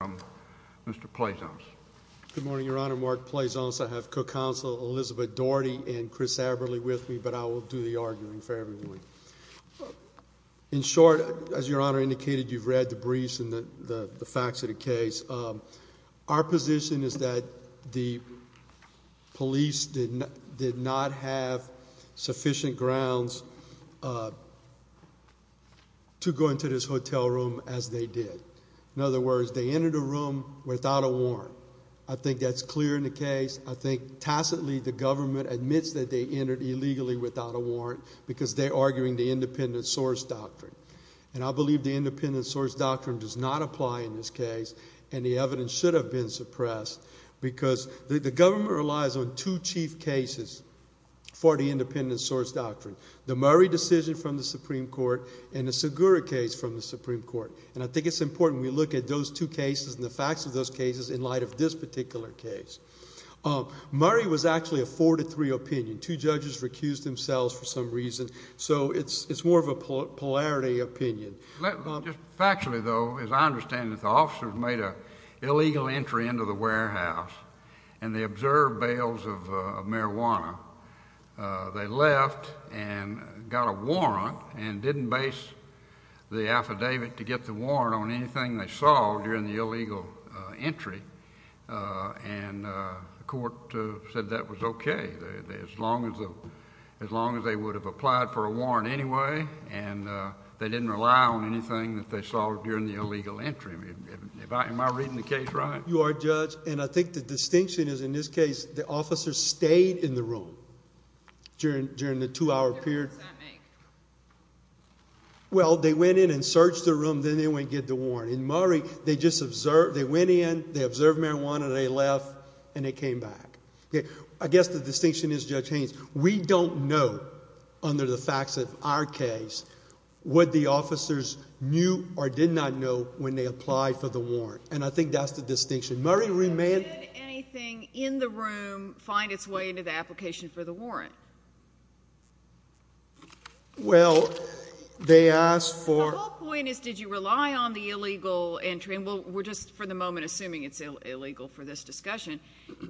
from Mr. Pleasance. Good morning, Your Honor. Mark Pleasance. I have Co-Counsel Elizabeth Daugherty and Chris Aberle with me, but I will do the arguing for everyone. In short, as Your Honor indicated, you've read the briefs and the facts of the case. Our position is that the police did not have sufficient grounds to go into this hotel room as they did. In other words, they entered a room without a warrant. I think that's clear in the case. I think tacitly the government admits that they entered illegally without a warrant because they're arguing the independent source doctrine. And I believe the independent source doctrine does not apply in this case, and the evidence should have been suppressed because the government relies on two chief cases for the independent source doctrine, the Murray decision from the Supreme Court and the Segura case from the Supreme Court. And I think it's important when we look at those two cases and the facts of those cases in light of this particular case. Murray was actually a 4-3 opinion. Two judges recused themselves for some reason, so it's more of a polarity opinion. Just factually, though, as I understand it, the officers made an illegal entry into the warehouse, and they observed bales of marijuana. They left and got a warrant and didn't base the affidavit to get the warrant on anything they saw during the illegal entry. And the court said that was okay as long as they would have applied for a warrant anyway, and they didn't rely on anything that they saw during the illegal entry. Am I reading the case right? You are, Judge, and I think the distinction is in this case, the officers stayed in the room during the two-hour period. Well, they went in and searched the room, then they went and got the warrant. In Murray, they just observed, they went in, they observed marijuana, they left, and they came back. I guess the distinction is, Judge Haynes, we don't know, under the facts of our case, what the officers knew or did not know when they applied for the warrant, and I think that's the distinction. Did anything in the room find its way into the application for the warrant? Well, they asked for... The whole point is, did you rely on the illegal entry, and we'll just for the moment assume it's illegal for this discussion,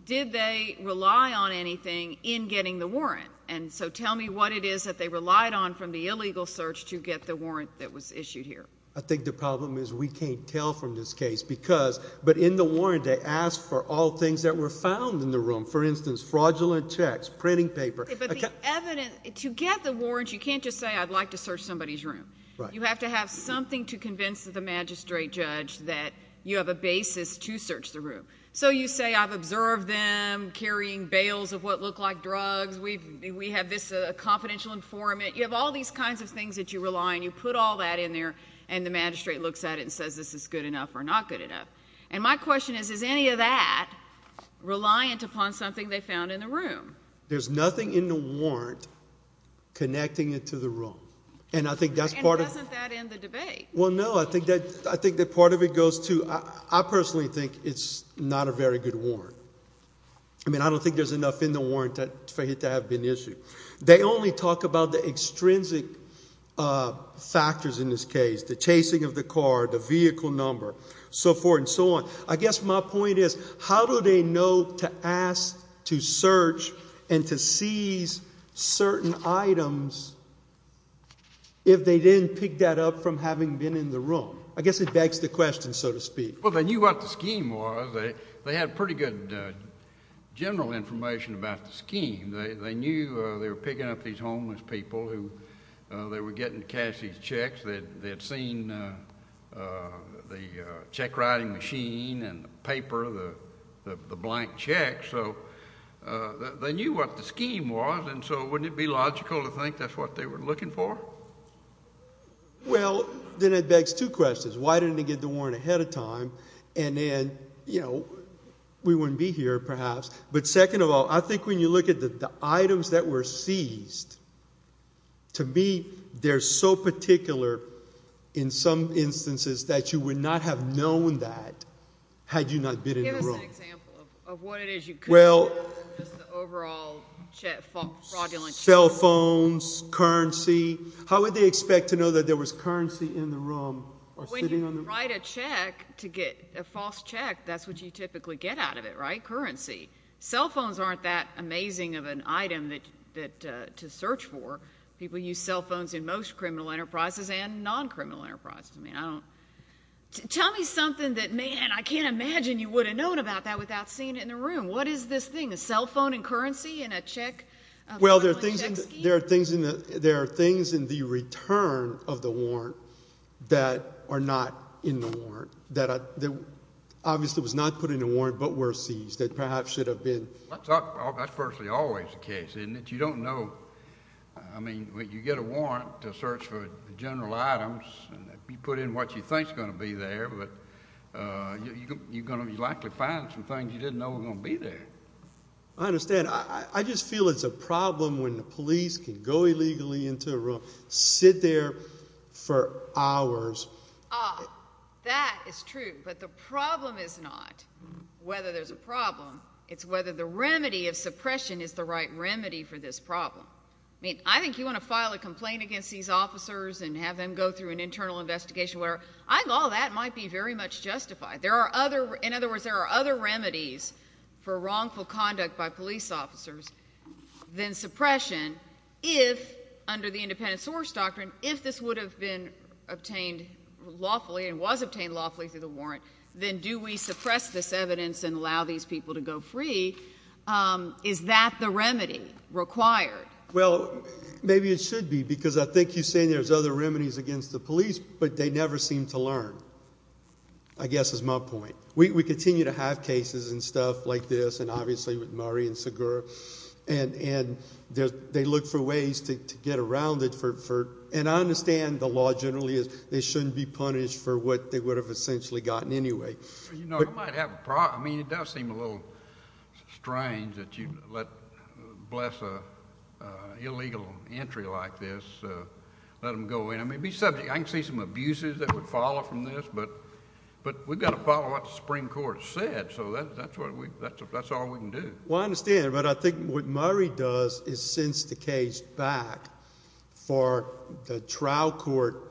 did they rely on anything in getting the warrant? And so tell me what it is that they relied on from the illegal search to get the warrant that was issued here. I think the problem is we can't tell from this case, because, but in the warrant, they asked for all things that were found in the room, for instance, fraudulent checks, printing paper. But the evidence, to get the warrant, you can't just say, I'd like to search somebody's room. Right. You have to have something to convince the magistrate judge that you have a basis to search the room. So you say, I've observed them carrying bales of what look like drugs, we have this confidential informant, you have all these kinds of things that you rely on, you put all that in there, and the magistrate looks at it and says, this is good enough or not good enough. And my question is, is any of that reliant upon something they found in the room? There's nothing in the warrant connecting it to the room. And I think that's part of... And doesn't that end the debate? Well, no. I think that part of it goes to, I personally think it's not a very good warrant. I mean, I don't think there's enough in the warrant for it to have been issued. They only talk about the extrinsic factors in this case, the chasing of the car, the vehicle number, so forth and so on. I guess my point is, how do they know to ask to search and to seize certain items if they didn't pick that up from having been in the room? I guess it begs the question, so to speak. Well, they knew what the scheme was. They had pretty good general information about the scheme. They knew they were picking up these homeless people who, they were getting Cassie's checks. They had seen the check-writing machine and the paper, the blank check. So they knew what the scheme was, and so wouldn't it be logical to think that's what they were looking for? Well, then it begs two questions. Why didn't they get the warrant ahead of time? And then, you know, we wouldn't be here, perhaps. But second of all, I think when you look at the items that were seized, to me they're so particular in some instances that you would not have known that had you not been in the room. Give us an example of what it is you couldn't know from just the overall fraudulent checks. Cell phones, currency. How would they expect to know that there was currency in the room When you write a check to get a false check, that's what you typically get out of it, right? Currency. Cell phones aren't that amazing of an item to search for. People use cell phones in most criminal enterprises and non-criminal enterprises. I mean, I don't, tell me something that man, I can't imagine you would have known about that without seeing it in the room. What is this thing? A cell phone and currency in a check? Well, there are things in the return of the warrant that are not in the warrant. That obviously was not put in the warrant but were seized. That perhaps should have been. That's personally always the case, isn't it? You don't know. I mean, you get a warrant to search for general items and you put in what you think is going to be there, but you're going to likely find some things you didn't know were going to be there. I understand. I just feel it's a problem when the police can go illegally into a room, sit there for hours. Ah, that is true, but the problem is not whether there's a problem. It's whether the remedy of suppression is the right remedy for this problem. I mean, I think you want to file a complaint against these officers and have them go through an internal investigation where I think all that might be very much justified. There are other, in other words, there are other remedies for wrongful conduct by police officers than suppression if, under the independent source doctrine, if this would have been obtained lawfully and was obtained lawfully through the warrant, then do we suppress this evidence and allow these people to go free? Is that the remedy required? Well, maybe it should be because I think you're saying there's other remedies against the stuff like this, and obviously with Murray and Segura, and they look for ways to get around it for, and I understand the law generally is they shouldn't be punished for what they would have essentially gotten anyway. You know, it might have, I mean, it does seem a little strange that you let, bless an illegal entry like this, let them go in. I mean, it'd be subject, I can see some abuses that would follow from this, but we've got to follow what the Supreme Court said, so that's all we can do. Well, I understand, but I think what Murray does is sends the case back for the trial court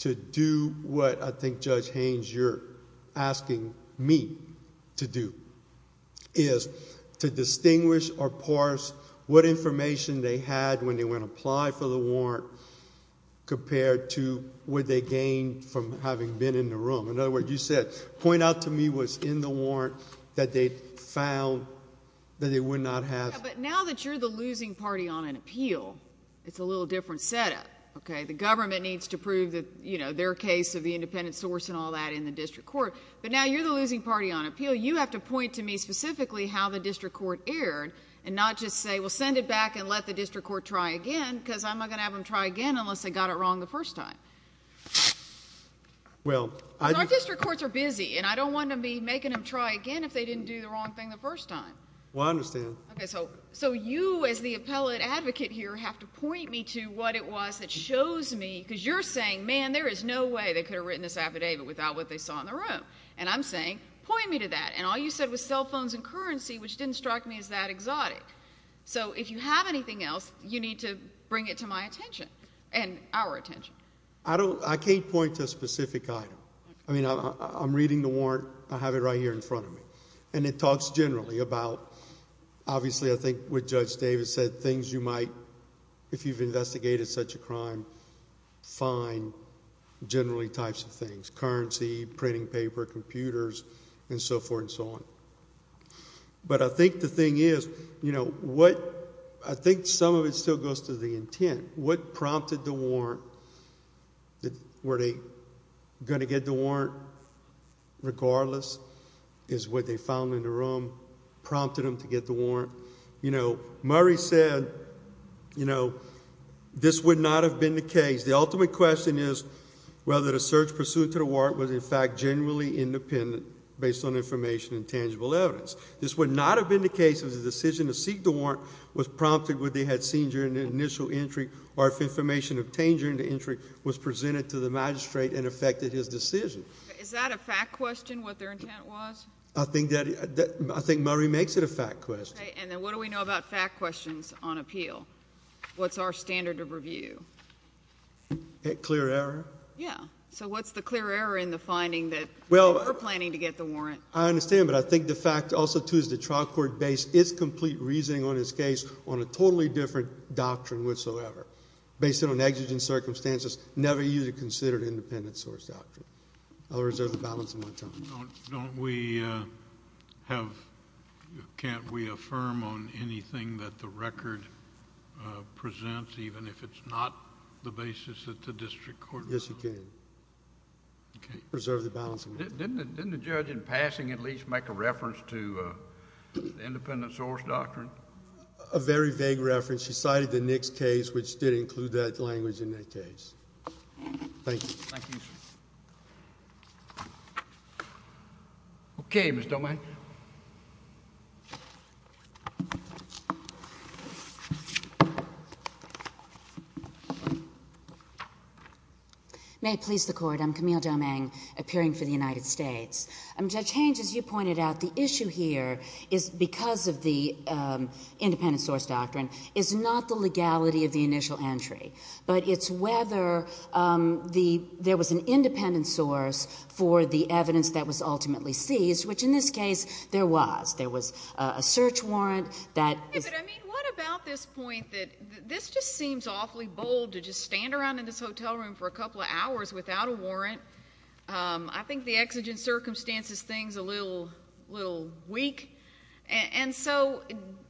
to do what I think Judge Haynes, you're asking me to do, is to distinguish or parse what information they had when they went to apply for the warrant compared to what they gained from having been in the room. In other words, you said, point out to me what's in the warrant that they found that they would not have... Yeah, but now that you're the losing party on an appeal, it's a little different setup, okay? The government needs to prove that, you know, their case of the independent source and all that in the district court, but now you're the losing party on appeal. You have to point to me specifically how the district court erred and not just say, well, send it back and let the district court try again, because I'm not going to have them try again unless they got it wrong the first time. Well, I... Because our district courts are busy, and I don't want to be making them try again if they didn't do the wrong thing the first time. Well, I understand. Okay, so you as the appellate advocate here have to point me to what it was that shows me, because you're saying, man, there is no way they could have written this affidavit without what they saw in the room, and I'm saying, point me to that, and all you said was cell phones and currency, which didn't strike me as that exotic. So if you have anything else, you need to bring it to my attention and our attention. I can't point to a specific item. I mean, I'm reading the warrant. I have it right here in front of me, and it talks generally about... Obviously, I think what Judge Davis said, things you might, if you've investigated such a crime, find generally types of things, currency, printing paper, computers, and so forth and so on. But I think the thing is, you know, what... I think some of it still goes to the intent. What prompted the warrant? Were they going to get the warrant regardless, is what they found in the room prompted them to get the warrant? You know, Murray said, you know, this would not have been the case. The ultimate question is whether the search pursuant to the warrant was, in fact, genuinely independent based on information and tangible evidence. This would not have been the case if the decision to seek the warrant was prompted what they had seen during the initial entry or if information obtained during the entry was presented to the magistrate and affected his decision. Is that a fact question, what their intent was? I think that... I think Murray makes it a fact question. Okay. And then what do we know about fact questions on appeal? What's our standard of review? Clear error. Yeah. So what's the clear error in the finding that they were planning to get the warrant? I understand, but I think the fact also, too, is the trial court based its complete reasoning on this case on a totally different doctrine whatsoever. Based on exigent circumstances, never used a considered independent source doctrine. I'll reserve the balance of my time. Don't we have... can't we affirm on anything that the record presents, even if it's not the basis that the district court... Yes, you can. Okay. Reserve the balance of my time. Didn't the judge in passing at least make a reference to the independent source doctrine? A very vague reference. She cited the Nix case, which did include that language in that case. Thank you. Thank you, sir. Okay, Ms. Domingue. May it please the Court. I'm Camille Domingue, appearing for the United States. Judge Hange, as you pointed out, the issue here is, because of the independent source doctrine, is not the legality of the initial entry, but it's whether there was an independent source for the evidence that was ultimately seized, which, in this case, there was. There was a search warrant that... Yeah, but I mean, what about this point that this just seems awfully bold to just stand around in this hotel room for a couple of hours without a warrant. I think the exigent circumstances thing's a little weak. And so,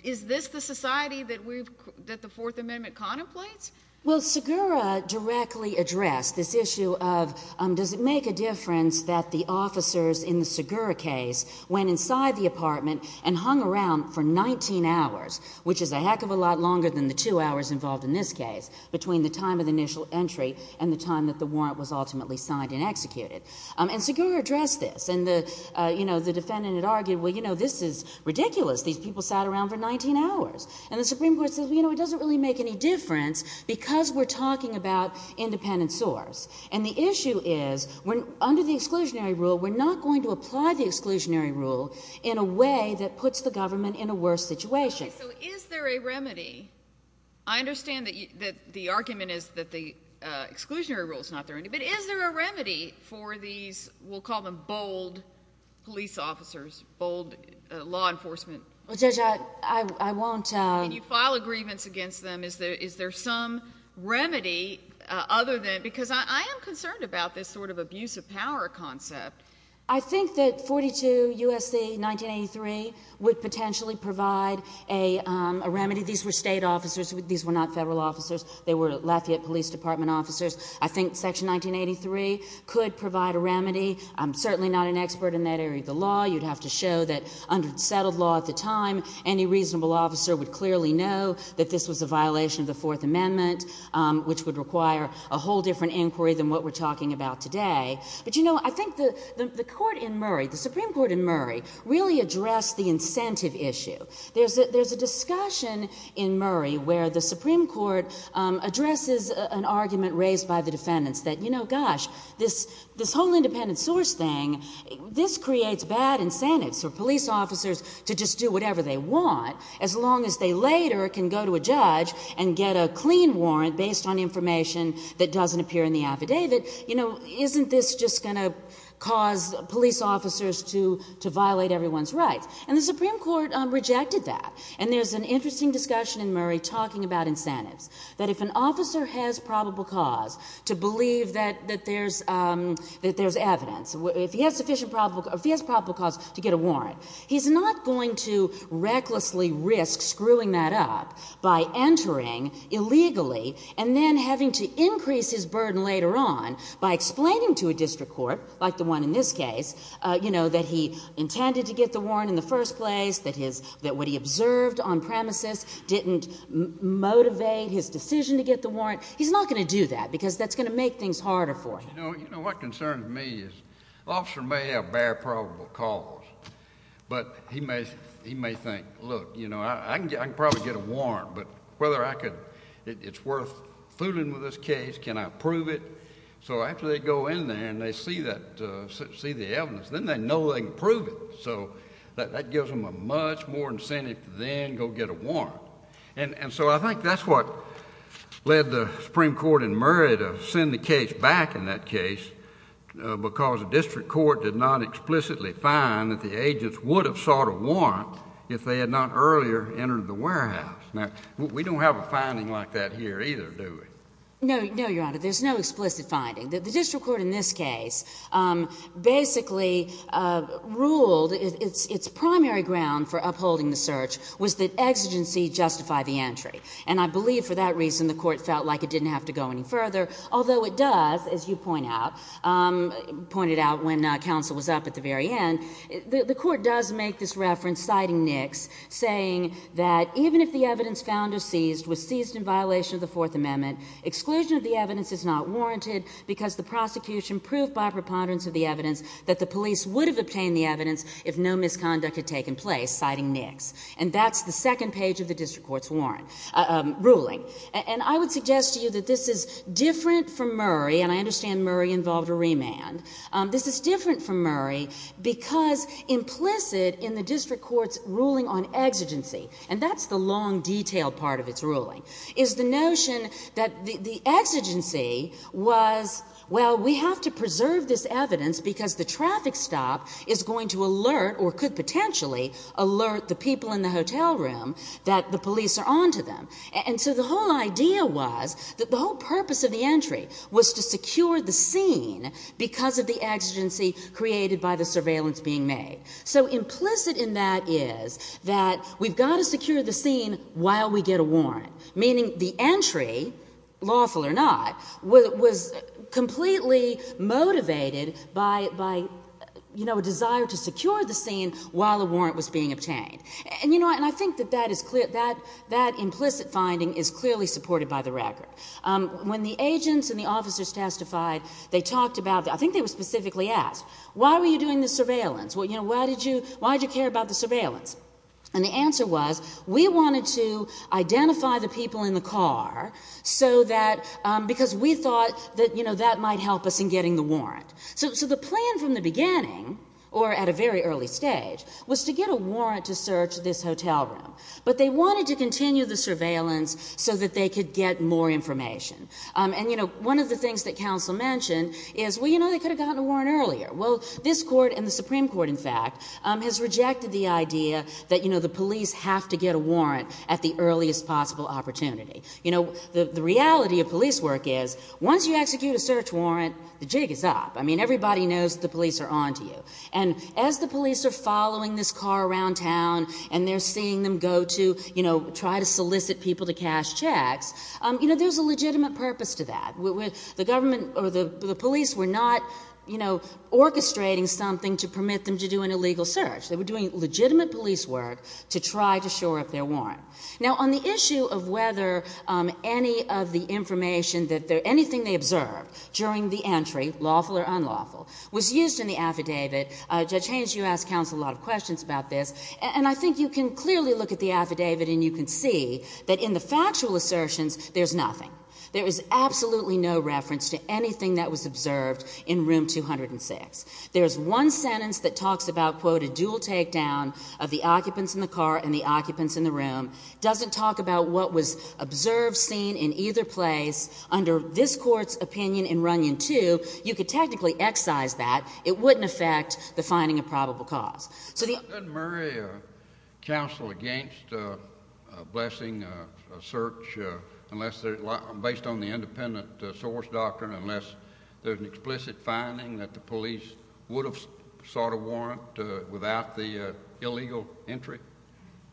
is this the society that the Fourth Amendment contemplates? Well, Segura directly addressed this issue of, does it make a difference that the officers in the Segura case went inside the apartment and hung around for 19 hours, which is a heck of a lot longer than the two hours involved in this case, between the time of the initial entry and the time that the warrant was ultimately signed and executed. And Segura addressed this. And the defendant had argued, well, this is ridiculous. These people sat around for 19 hours. And the Supreme Court says, well, you know, it doesn't really make any difference because we're talking about independent source. And the issue is, under the exclusionary rule, we're not going to apply the exclusionary rule in a way that puts the government in a worse situation. Okay, so is there a remedy? I understand that the argument is that the exclusionary rule is not there, but is there a remedy for these, we'll call them bold police officers, bold law enforcement... Well, Judge, I won't... And you file a grievance against them. Is there some remedy other than... because I am concerned about this sort of abuse of power concept. I think that 42 U.S.C. 1983 would potentially provide a remedy. These were state officers. These were not federal officers. They were Lafayette Police Department officers. I think Section 1983 could provide a remedy. I'm certainly not an expert in that area of the law. You'd have to show that under the settled law at the time, any reasonable officer would clearly know that this was a violation of the Fourth Amendment, which would require a whole different inquiry than what we're talking about today. But, you know, I think the court in Murray, the Supreme Court in Murray, really addressed the incentive issue. There's a discussion in Murray where the Supreme Court addresses an argument raised by the defendants that, you know, gosh, this whole independent source thing, this creates bad incentives for police officers to just do whatever they want as long as they later can go to a judge and get a clean warrant based on information that doesn't appear in the affidavit. You know, isn't this just going to cause police officers to violate everyone's rights? And the Supreme Court rejected that. And there's an interesting discussion in Murray talking about incentives, that if an officer has probable cause to believe that there's evidence, if he has probable cause to get a warrant, he's not going to recklessly risk screwing that up by entering illegally and then having to increase his burden later on by explaining to a district court, like the one in this case, you know, that he intended to get the warrant in the first place, that what he observed on premises didn't motivate his decision to get the warrant. He's not going to do that, because that's going to make things harder for him. You know, what concerns me is an officer may have a very probable cause, but he may think, look, you know, I can probably get a warrant, but whether it's worth fooling with this case, can I prove it? So after they go in there and they see the evidence, then they know they can prove it. So that gives them a much more incentive to then go get a warrant. And in that case, because the district court did not explicitly find that the agents would have sought a warrant if they had not earlier entered the warehouse. Now, we don't have a finding like that here either, do we? No, no, Your Honor. There's no explicit finding. The district court in this case basically ruled its primary ground for upholding the search was that exigency justified the entry. And I believe for that reason the court felt like it didn't have to go any further, although it does, as you pointed out when counsel was up at the very end, the court does make this reference, citing Nix, saying that even if the evidence found or seized was seized in violation of the Fourth Amendment, exclusion of the evidence is not warranted because the prosecution proved by preponderance of the evidence that the police would have obtained the evidence if no misconduct had taken place, citing Nix. And that's the second page of the district court's ruling. And I would suggest to you that this is different from Murray, and I understand Murray involved a remand. This is different from Murray because implicit in the district court's ruling on exigency, and that's the long, detailed part of its ruling, is the notion that the exigency was, well, we have to preserve this evidence because the traffic stop is going to alert, or could potentially alert, the people in the hotel room that the police are going to come to them. And so the whole idea was that the whole purpose of the entry was to secure the scene because of the exigency created by the surveillance being made. So implicit in that is that we've got to secure the scene while we get a warrant, meaning the entry, lawful or not, was completely motivated by, you know, a desire to secure the scene while a warrant was being obtained. And, you know, I think that that implicit finding is clearly supported by the record. When the agents and the officers testified, they talked about, I think they were specifically asked, why were you doing the surveillance? Why did you care about the surveillance? And the answer was, we wanted to identify the people in the car so that, because we thought that, you know, that might help us in getting the warrant. So the plan from the beginning, or at a very early stage, was to get a warrant to search this hotel room. But they wanted to continue the surveillance so that they could get more information. And, you know, one of the things that counsel mentioned is, well, you know, they could have gotten a warrant earlier. Well, this court and the Supreme Court, in fact, has rejected the idea that, you know, the police have to get a warrant at the earliest possible opportunity. You know, the reality of police work is, once you execute a search warrant, the jig is up. I mean, everybody knows the police are on to you. And as the police are following this car around town, and they're seeing them go to, you know, try to solicit people to cash checks, you know, there's a legitimate purpose to that. The government or the police were not, you know, orchestrating something to permit them to do an illegal search. They were doing legitimate police work to try to shore up their warrant. Now, on the issue of whether any of the information that they're—anything they observed during the entry, lawful or unlawful, was used in the affidavit, Judge Haynes, you asked counsel a lot of questions about this. And I think you can clearly look at the affidavit, and you can see that in the factual assertions, there's nothing. There is absolutely no reference to anything that was observed in Room 206. There's one sentence that talks about, quote, a dual takedown of the occupants in the car and the occupants in the room. Doesn't talk about what was observed, seen in either place. Under this Court's opinion in Runyon 2, you could technically excise that. It wouldn't affect the finding of probable cause. So the— Couldn't Murray counsel against a blessing, a search, unless they're—based on the independent source doctrine, unless there's an explicit finding that the police would have sought a warrant without the illegal entry?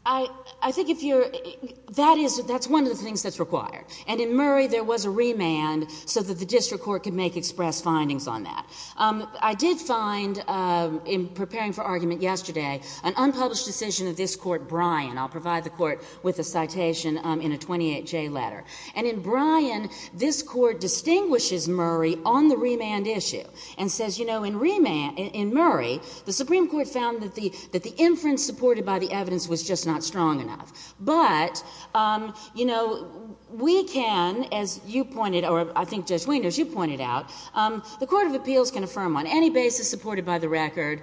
I think if you're—that is—that's one of the things that's required. And in Murray, there was a remand so that the district court could make express findings on that. I did find, in preparing for argument yesterday, an unpublished decision of this Court, Bryan—I'll provide the Court with a citation in a 28J letter. And in Bryan, this Court distinguishes Murray on the remand issue and says, you know, in remand—in Murray, the Supreme Court found that the inference supported by the evidence was just not strong enough. But, you know, we can, as you pointed—or I think Judge Weiner, as you pointed out, the Court of Appeals can affirm on any basis supported by the record.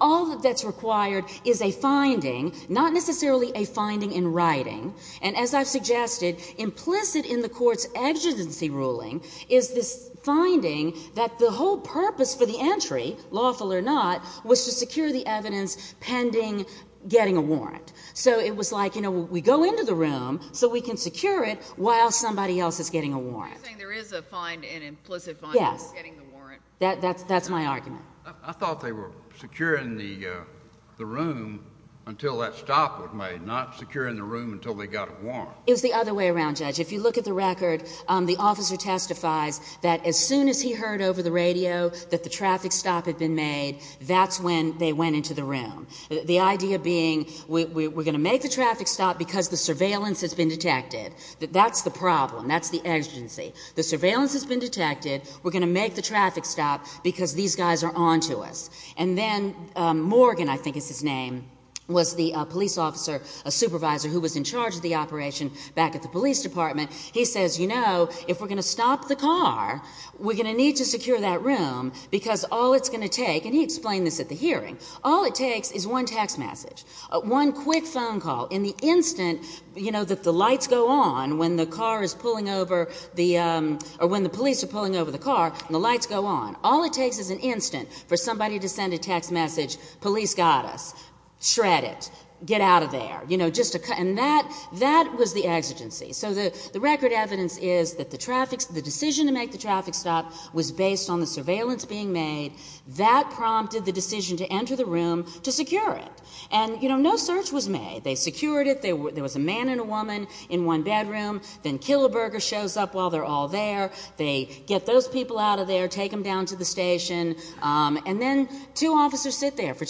All that's required is a finding, not necessarily a finding in writing. And as I've suggested, implicit in the Court's exigency ruling is this finding that the whole purpose for the entry, lawful or not, was to secure the evidence pending getting a warrant. So it was like, you know, we go into the room so we can secure it while somebody else is getting a warrant. Are you saying there is a find—an implicit find— Yes. —for getting the warrant? That's my argument. I thought they were securing the room until that stop was made, not securing the room until they got a warrant. It was the other way around, Judge. If you look at the record, the officer testifies that as soon as he heard over the radio that the traffic stop had been made, that's when they went into the room. The idea being, we're going to make the traffic stop because the surveillance has been detected. That's the problem. That's the exigency. The surveillance has been detected. We're going to make the traffic stop because these guys are onto us. And then Morgan, I think is his name, was the police officer, a supervisor who was in the operation back at the police department. He says, you know, if we're going to stop the car, we're going to need to secure that room because all it's going to take—and he explained this at the hearing—all it takes is one text message, one quick phone call in the instant, you know, that the lights go on when the car is pulling over the—or when the police are pulling over the car and the lights go on. All it takes is an instant for somebody to send a text message, police got us. Shred it. Get out of there. You know, and that was the exigency. So the record evidence is that the decision to make the traffic stop was based on the surveillance being made. That prompted the decision to enter the room to secure it. And, you know, no search was made. They secured it. There was a man and a woman in one bedroom. Then Killeberger shows up while they're all there. They get those people out of there, take them down to the station. And then two officers sit there for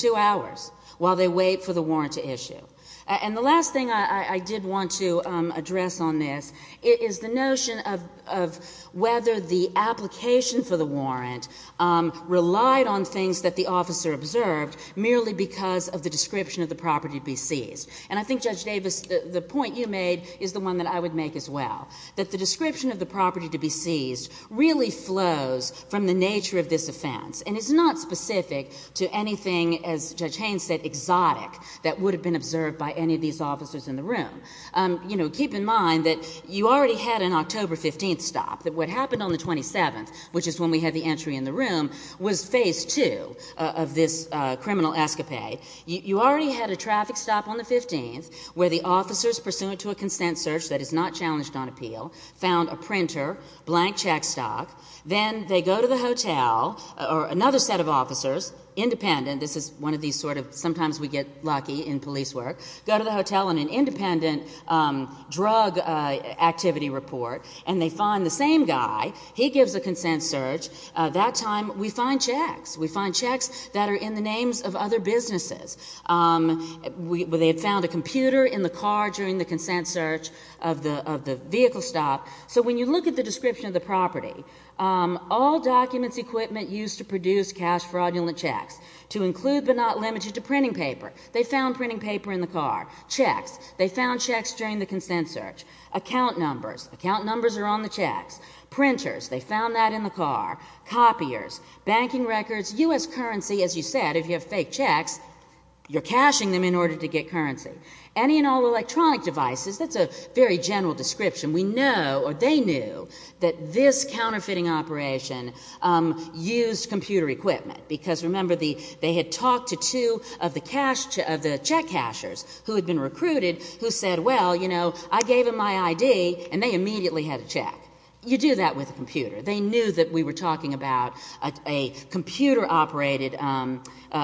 The last thing I did want to address on this is the notion of whether the application for the warrant relied on things that the officer observed merely because of the description of the property to be seized. And I think, Judge Davis, the point you made is the one that I would make as well, that the description of the property to be seized really flows from the nature of this offense. And it's not specific to anything, as Judge Haynes said, exotic that would have been observed by any of these officers in the room. You know, keep in mind that you already had an October 15th stop. What happened on the 27th, which is when we had the entry in the room, was phase two of this criminal escapade. You already had a traffic stop on the 15th where the officers, pursuant to a consent search that is not challenged on appeal, found a printer, blank check stock. Then they go to the hotel, or another set of officers, independent, this is one of these sort of sometimes we get lucky in police work, go to the hotel on an independent drug activity report, and they find the same guy. He gives a consent search. That time we find checks. We find checks that are in the names of other businesses. They had found a computer in the car during the consent search of the vehicle stop. So when you look at the description of the property, all documents, equipment used to produce cash fraudulent checks, to include but not limited to printing paper. They found printing paper in the car. Checks. They found checks during the consent search. Account numbers. Account numbers are on the checks. Printers. They found that in the car. Copiers. Banking records. U.S. currency, as you said, if you have fake checks, you're cashing them in order to get currency. Any and all electronic devices, that's a very general description. We know, or they knew, that this counterfeiting operation used computer equipment. Because remember, they had talked to two of the check cashers who had been recruited, who said, well, you know, I gave them my ID, and they immediately had a check. You do that with a computer. They knew that we were talking about a computer-operated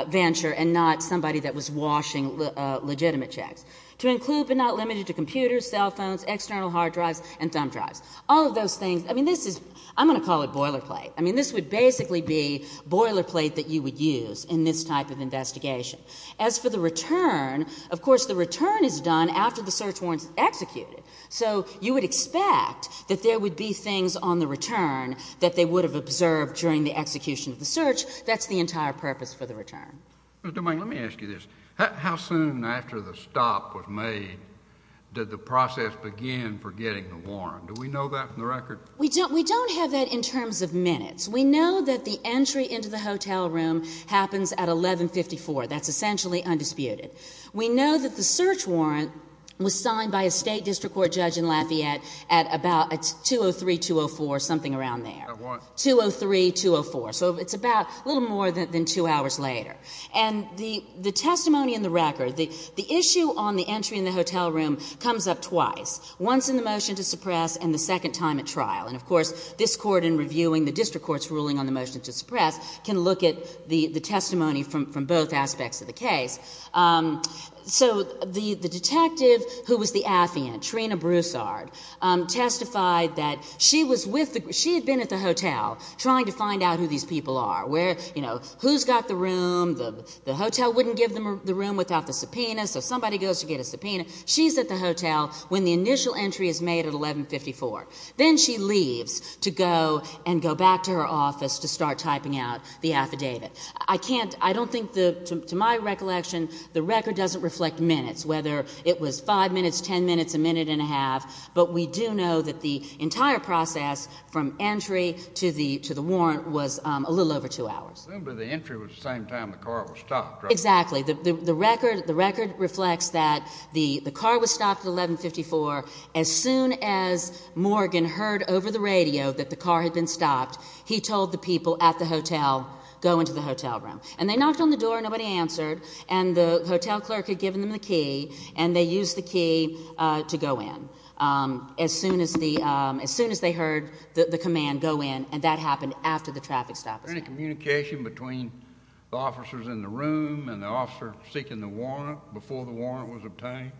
venture and not somebody that was washing legitimate checks. To include but not limited to computers, cell phones, external hard drives, and thumb drives. All of those things, I mean, this is, I'm going to call it boilerplate. I mean, this would basically be boilerplate that you would use in this type of investigation. As for the return, of course, the return is done after the search warrant is executed. So you would expect that there would be things on the return that they would have observed during the execution of the search. That's the entire purpose for the return. Mr. Domingue, let me ask you this. How soon after the stop was made did the process begin for getting the warrant? Do we know that from the record? We don't have that in terms of minutes. We know that the entry into the hotel room happens at 1154. That's essentially undisputed. We know that the search warrant was signed by a State District Court judge in Lafayette at about 203-204, something around there. At what? 203-204. So it's about a little more than two hours later. And the testimony in the record, the issue on the entry in the hotel room comes up twice, once in the motion to suppress and the second time at trial. And, of course, this Court, in reviewing the District Court's ruling on the motion to suppress, can look at the testimony from both aspects of the case. So the detective who was the affiant, Trina Broussard, testified that she was with the She had been at the hotel trying to find out who these people are, where, you know, who's got the room. The hotel wouldn't give them the room without the subpoena, so somebody goes to get a subpoena. She's at the hotel when the initial entry is made at 1154. Then she leaves to go and go back to her office to start typing out the affidavit. I can't, I don't think, to my recollection, the record doesn't reflect minutes, whether it was five minutes, ten minutes, a minute and a half. But we do know that the entire process from entry to the warrant was a little over two hours. I remember the entry was the same time the car was stopped, right? Exactly. The record reflects that the car was stopped at 1154. As soon as Morgan heard over the radio that the car had been stopped, he told the people at the hotel, go into the hotel room. And they knocked on the door, nobody answered, and the hotel clerk had given them the key, and they used the key to go in. As soon as they heard the command, go in, and that happened after the traffic stop. Was there any communication between the officers in the room and the officer seeking the warrant before the warrant was obtained?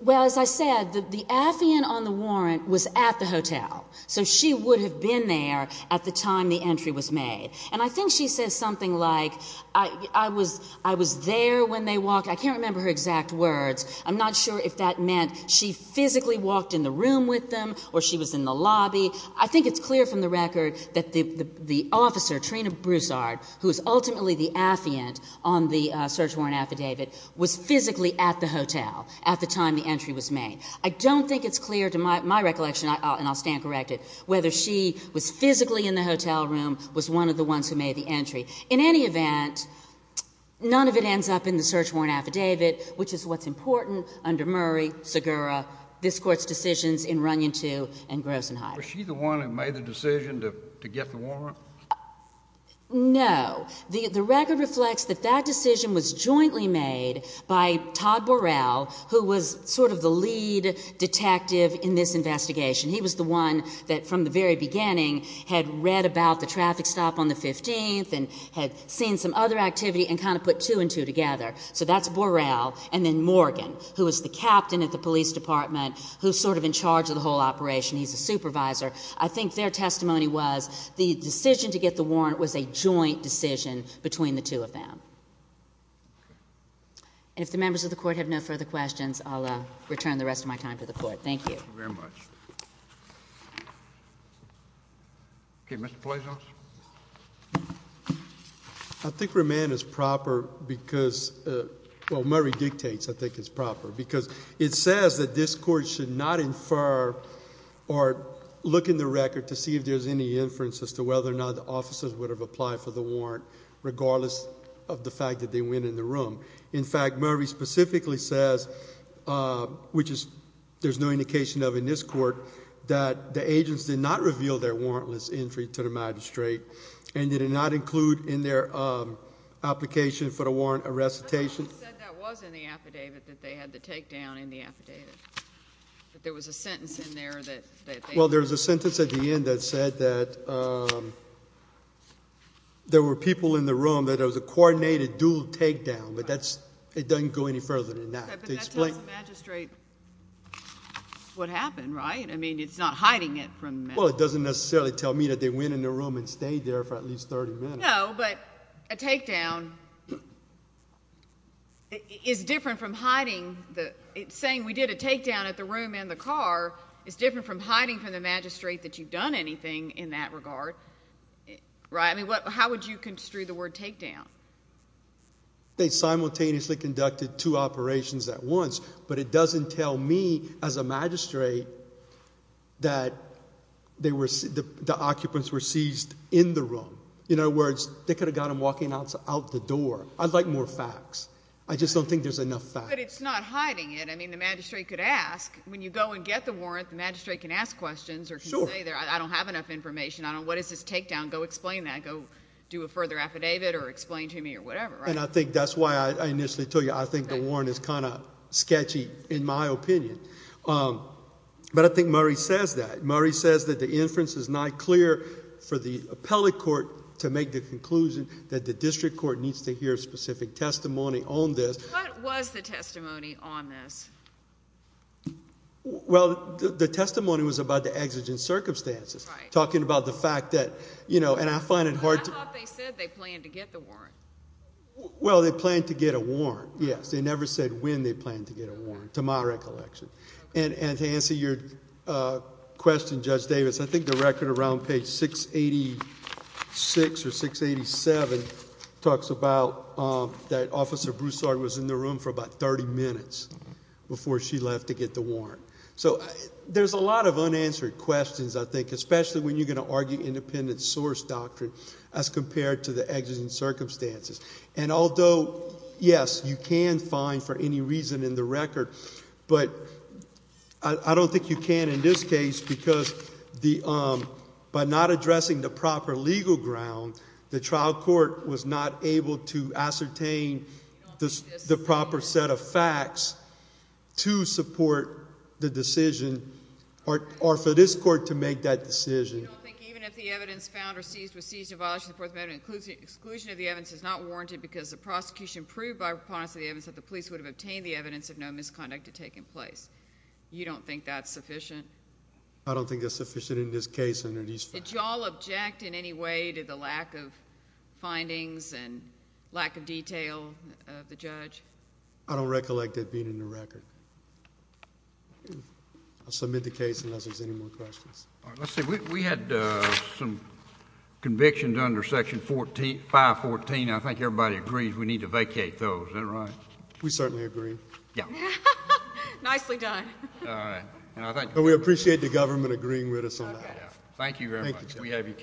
Well, as I said, the affiant on the warrant was at the hotel, so she would have been there at the time the entry was made. And I think she says something like, I was there when they walked. I can't remember her exact words. I'm not sure if that meant she physically walked in the room with them or she was in the lobby. I think it's clear from the record that the officer, Trina Broussard, who is ultimately the affiant on the search warrant affidavit, was physically at the hotel at the time the entry was made. I don't think it's clear, to my recollection, and I'll stand corrected, whether she was physically in the hotel room, was one of the ones who made the entry. In any event, none of it ends up in the search warrant affidavit, which is what's important under Murray, Segura, this Court's decisions in Runyon II and Grosenheide. Was she the one who made the decision to get the warrant? No. The record reflects that that decision was jointly made by Todd Borrell, who was sort of the lead detective in this investigation. He was the one that, from the very beginning, had read about the traffic stop on the 15th and had seen some other activity and kind of put two and two together. So that's Borrell. And then Morgan, who was the captain at the police department, who's sort of in charge of the whole operation. He's a supervisor. I think their testimony was the decision to get the warrant was a joint decision between the two of them. And if the members of the Court have no further questions, I'll return the rest of my time to the Court. Thank you. Thank you very much. Okay, Mr. Palazios? I think remand is proper because, well, Murray dictates I think it's proper, because it says that this Court should not infer or look in the record to see if there's any inference as to whether or not the officers would have applied for the warrant, regardless of the fact that they went in the room. In fact, Murray specifically says, which there's no indication of in this Court, that the agents did not reveal their warrantless entry to the magistrate and did not include in their application for the warrant a recitation... I thought you said that was in the affidavit, that they had the takedown in the affidavit, Well, there's a sentence at the end that said that there were people in the room, that it was a coordinated dual takedown, but that's... it doesn't go any further than that. But that tells the magistrate what happened, right? I mean, it's not hiding it from... Well, it doesn't necessarily tell me that they went in the room and stayed there for at least 30 minutes. No, but a takedown is different from hiding the... it's saying we did a takedown at the room and the car is different from hiding from the magistrate that you've done anything in that regard, right? I mean, how would you construe the word takedown? They simultaneously conducted two operations at once, but it doesn't tell me, as a magistrate, that they were... the occupants were seized in the room. In other words, they could have got them walking out the door. I'd like more facts. I just don't think there's enough facts. But it's not hiding it. I mean, the magistrate could ask. When you go and get the warrant, the magistrate can ask questions or can say, I don't have enough information. What is this takedown? Go explain that. Go do a further affidavit or explain to me or whatever, right? And I think that's why I initially told you, I think the warrant is kind of sketchy in my opinion. But I think Murray says that. Murray says that the inference is not clear for the appellate court to make the conclusion that the district court needs to hear specific testimony on this. What was the testimony on this? Well, the testimony was about the exigent circumstances, talking about the fact that, you know, and I find it hard to... I thought they said they planned to get the warrant. Well, they planned to get a warrant, yes. They never said when they planned to get a warrant, to my recollection. And to answer your question, Judge Davis, I think the record around page 686 or 687 talks about that Officer Broussard was in the room for about 30 minutes before she left to get the warrant. So there's a lot of unanswered questions, I think, especially when you're going to argue independent source doctrine as compared to the exigent circumstances. And although, yes, you can find for any reason in the record, but I don't think you can in this case because by not addressing the proper legal ground, the trial court was not able to ascertain the proper set of facts to support the decision or for this court to make that decision. You don't think even if the evidence found or seized was seized in violation of the Fourth Amendment, exclusion of the evidence is not warranted because the prosecution proved by preponderance of the evidence that the police would have obtained the evidence of no misconduct had taken place. You don't think that's sufficient? I don't think that's sufficient in this case under these facts. Did you all object in any way to the lack of findings and lack of detail of the judge? I don't recollect it being in the record. I'll submit the case unless there's any more questions. All right. Let's see. We had some convictions under Section 514. I think everybody agrees we need to vacate those. Is that right? We certainly agree. Yeah. Nicely done. All right. We appreciate the government agreeing with us on that. Thank you very much. Thank you.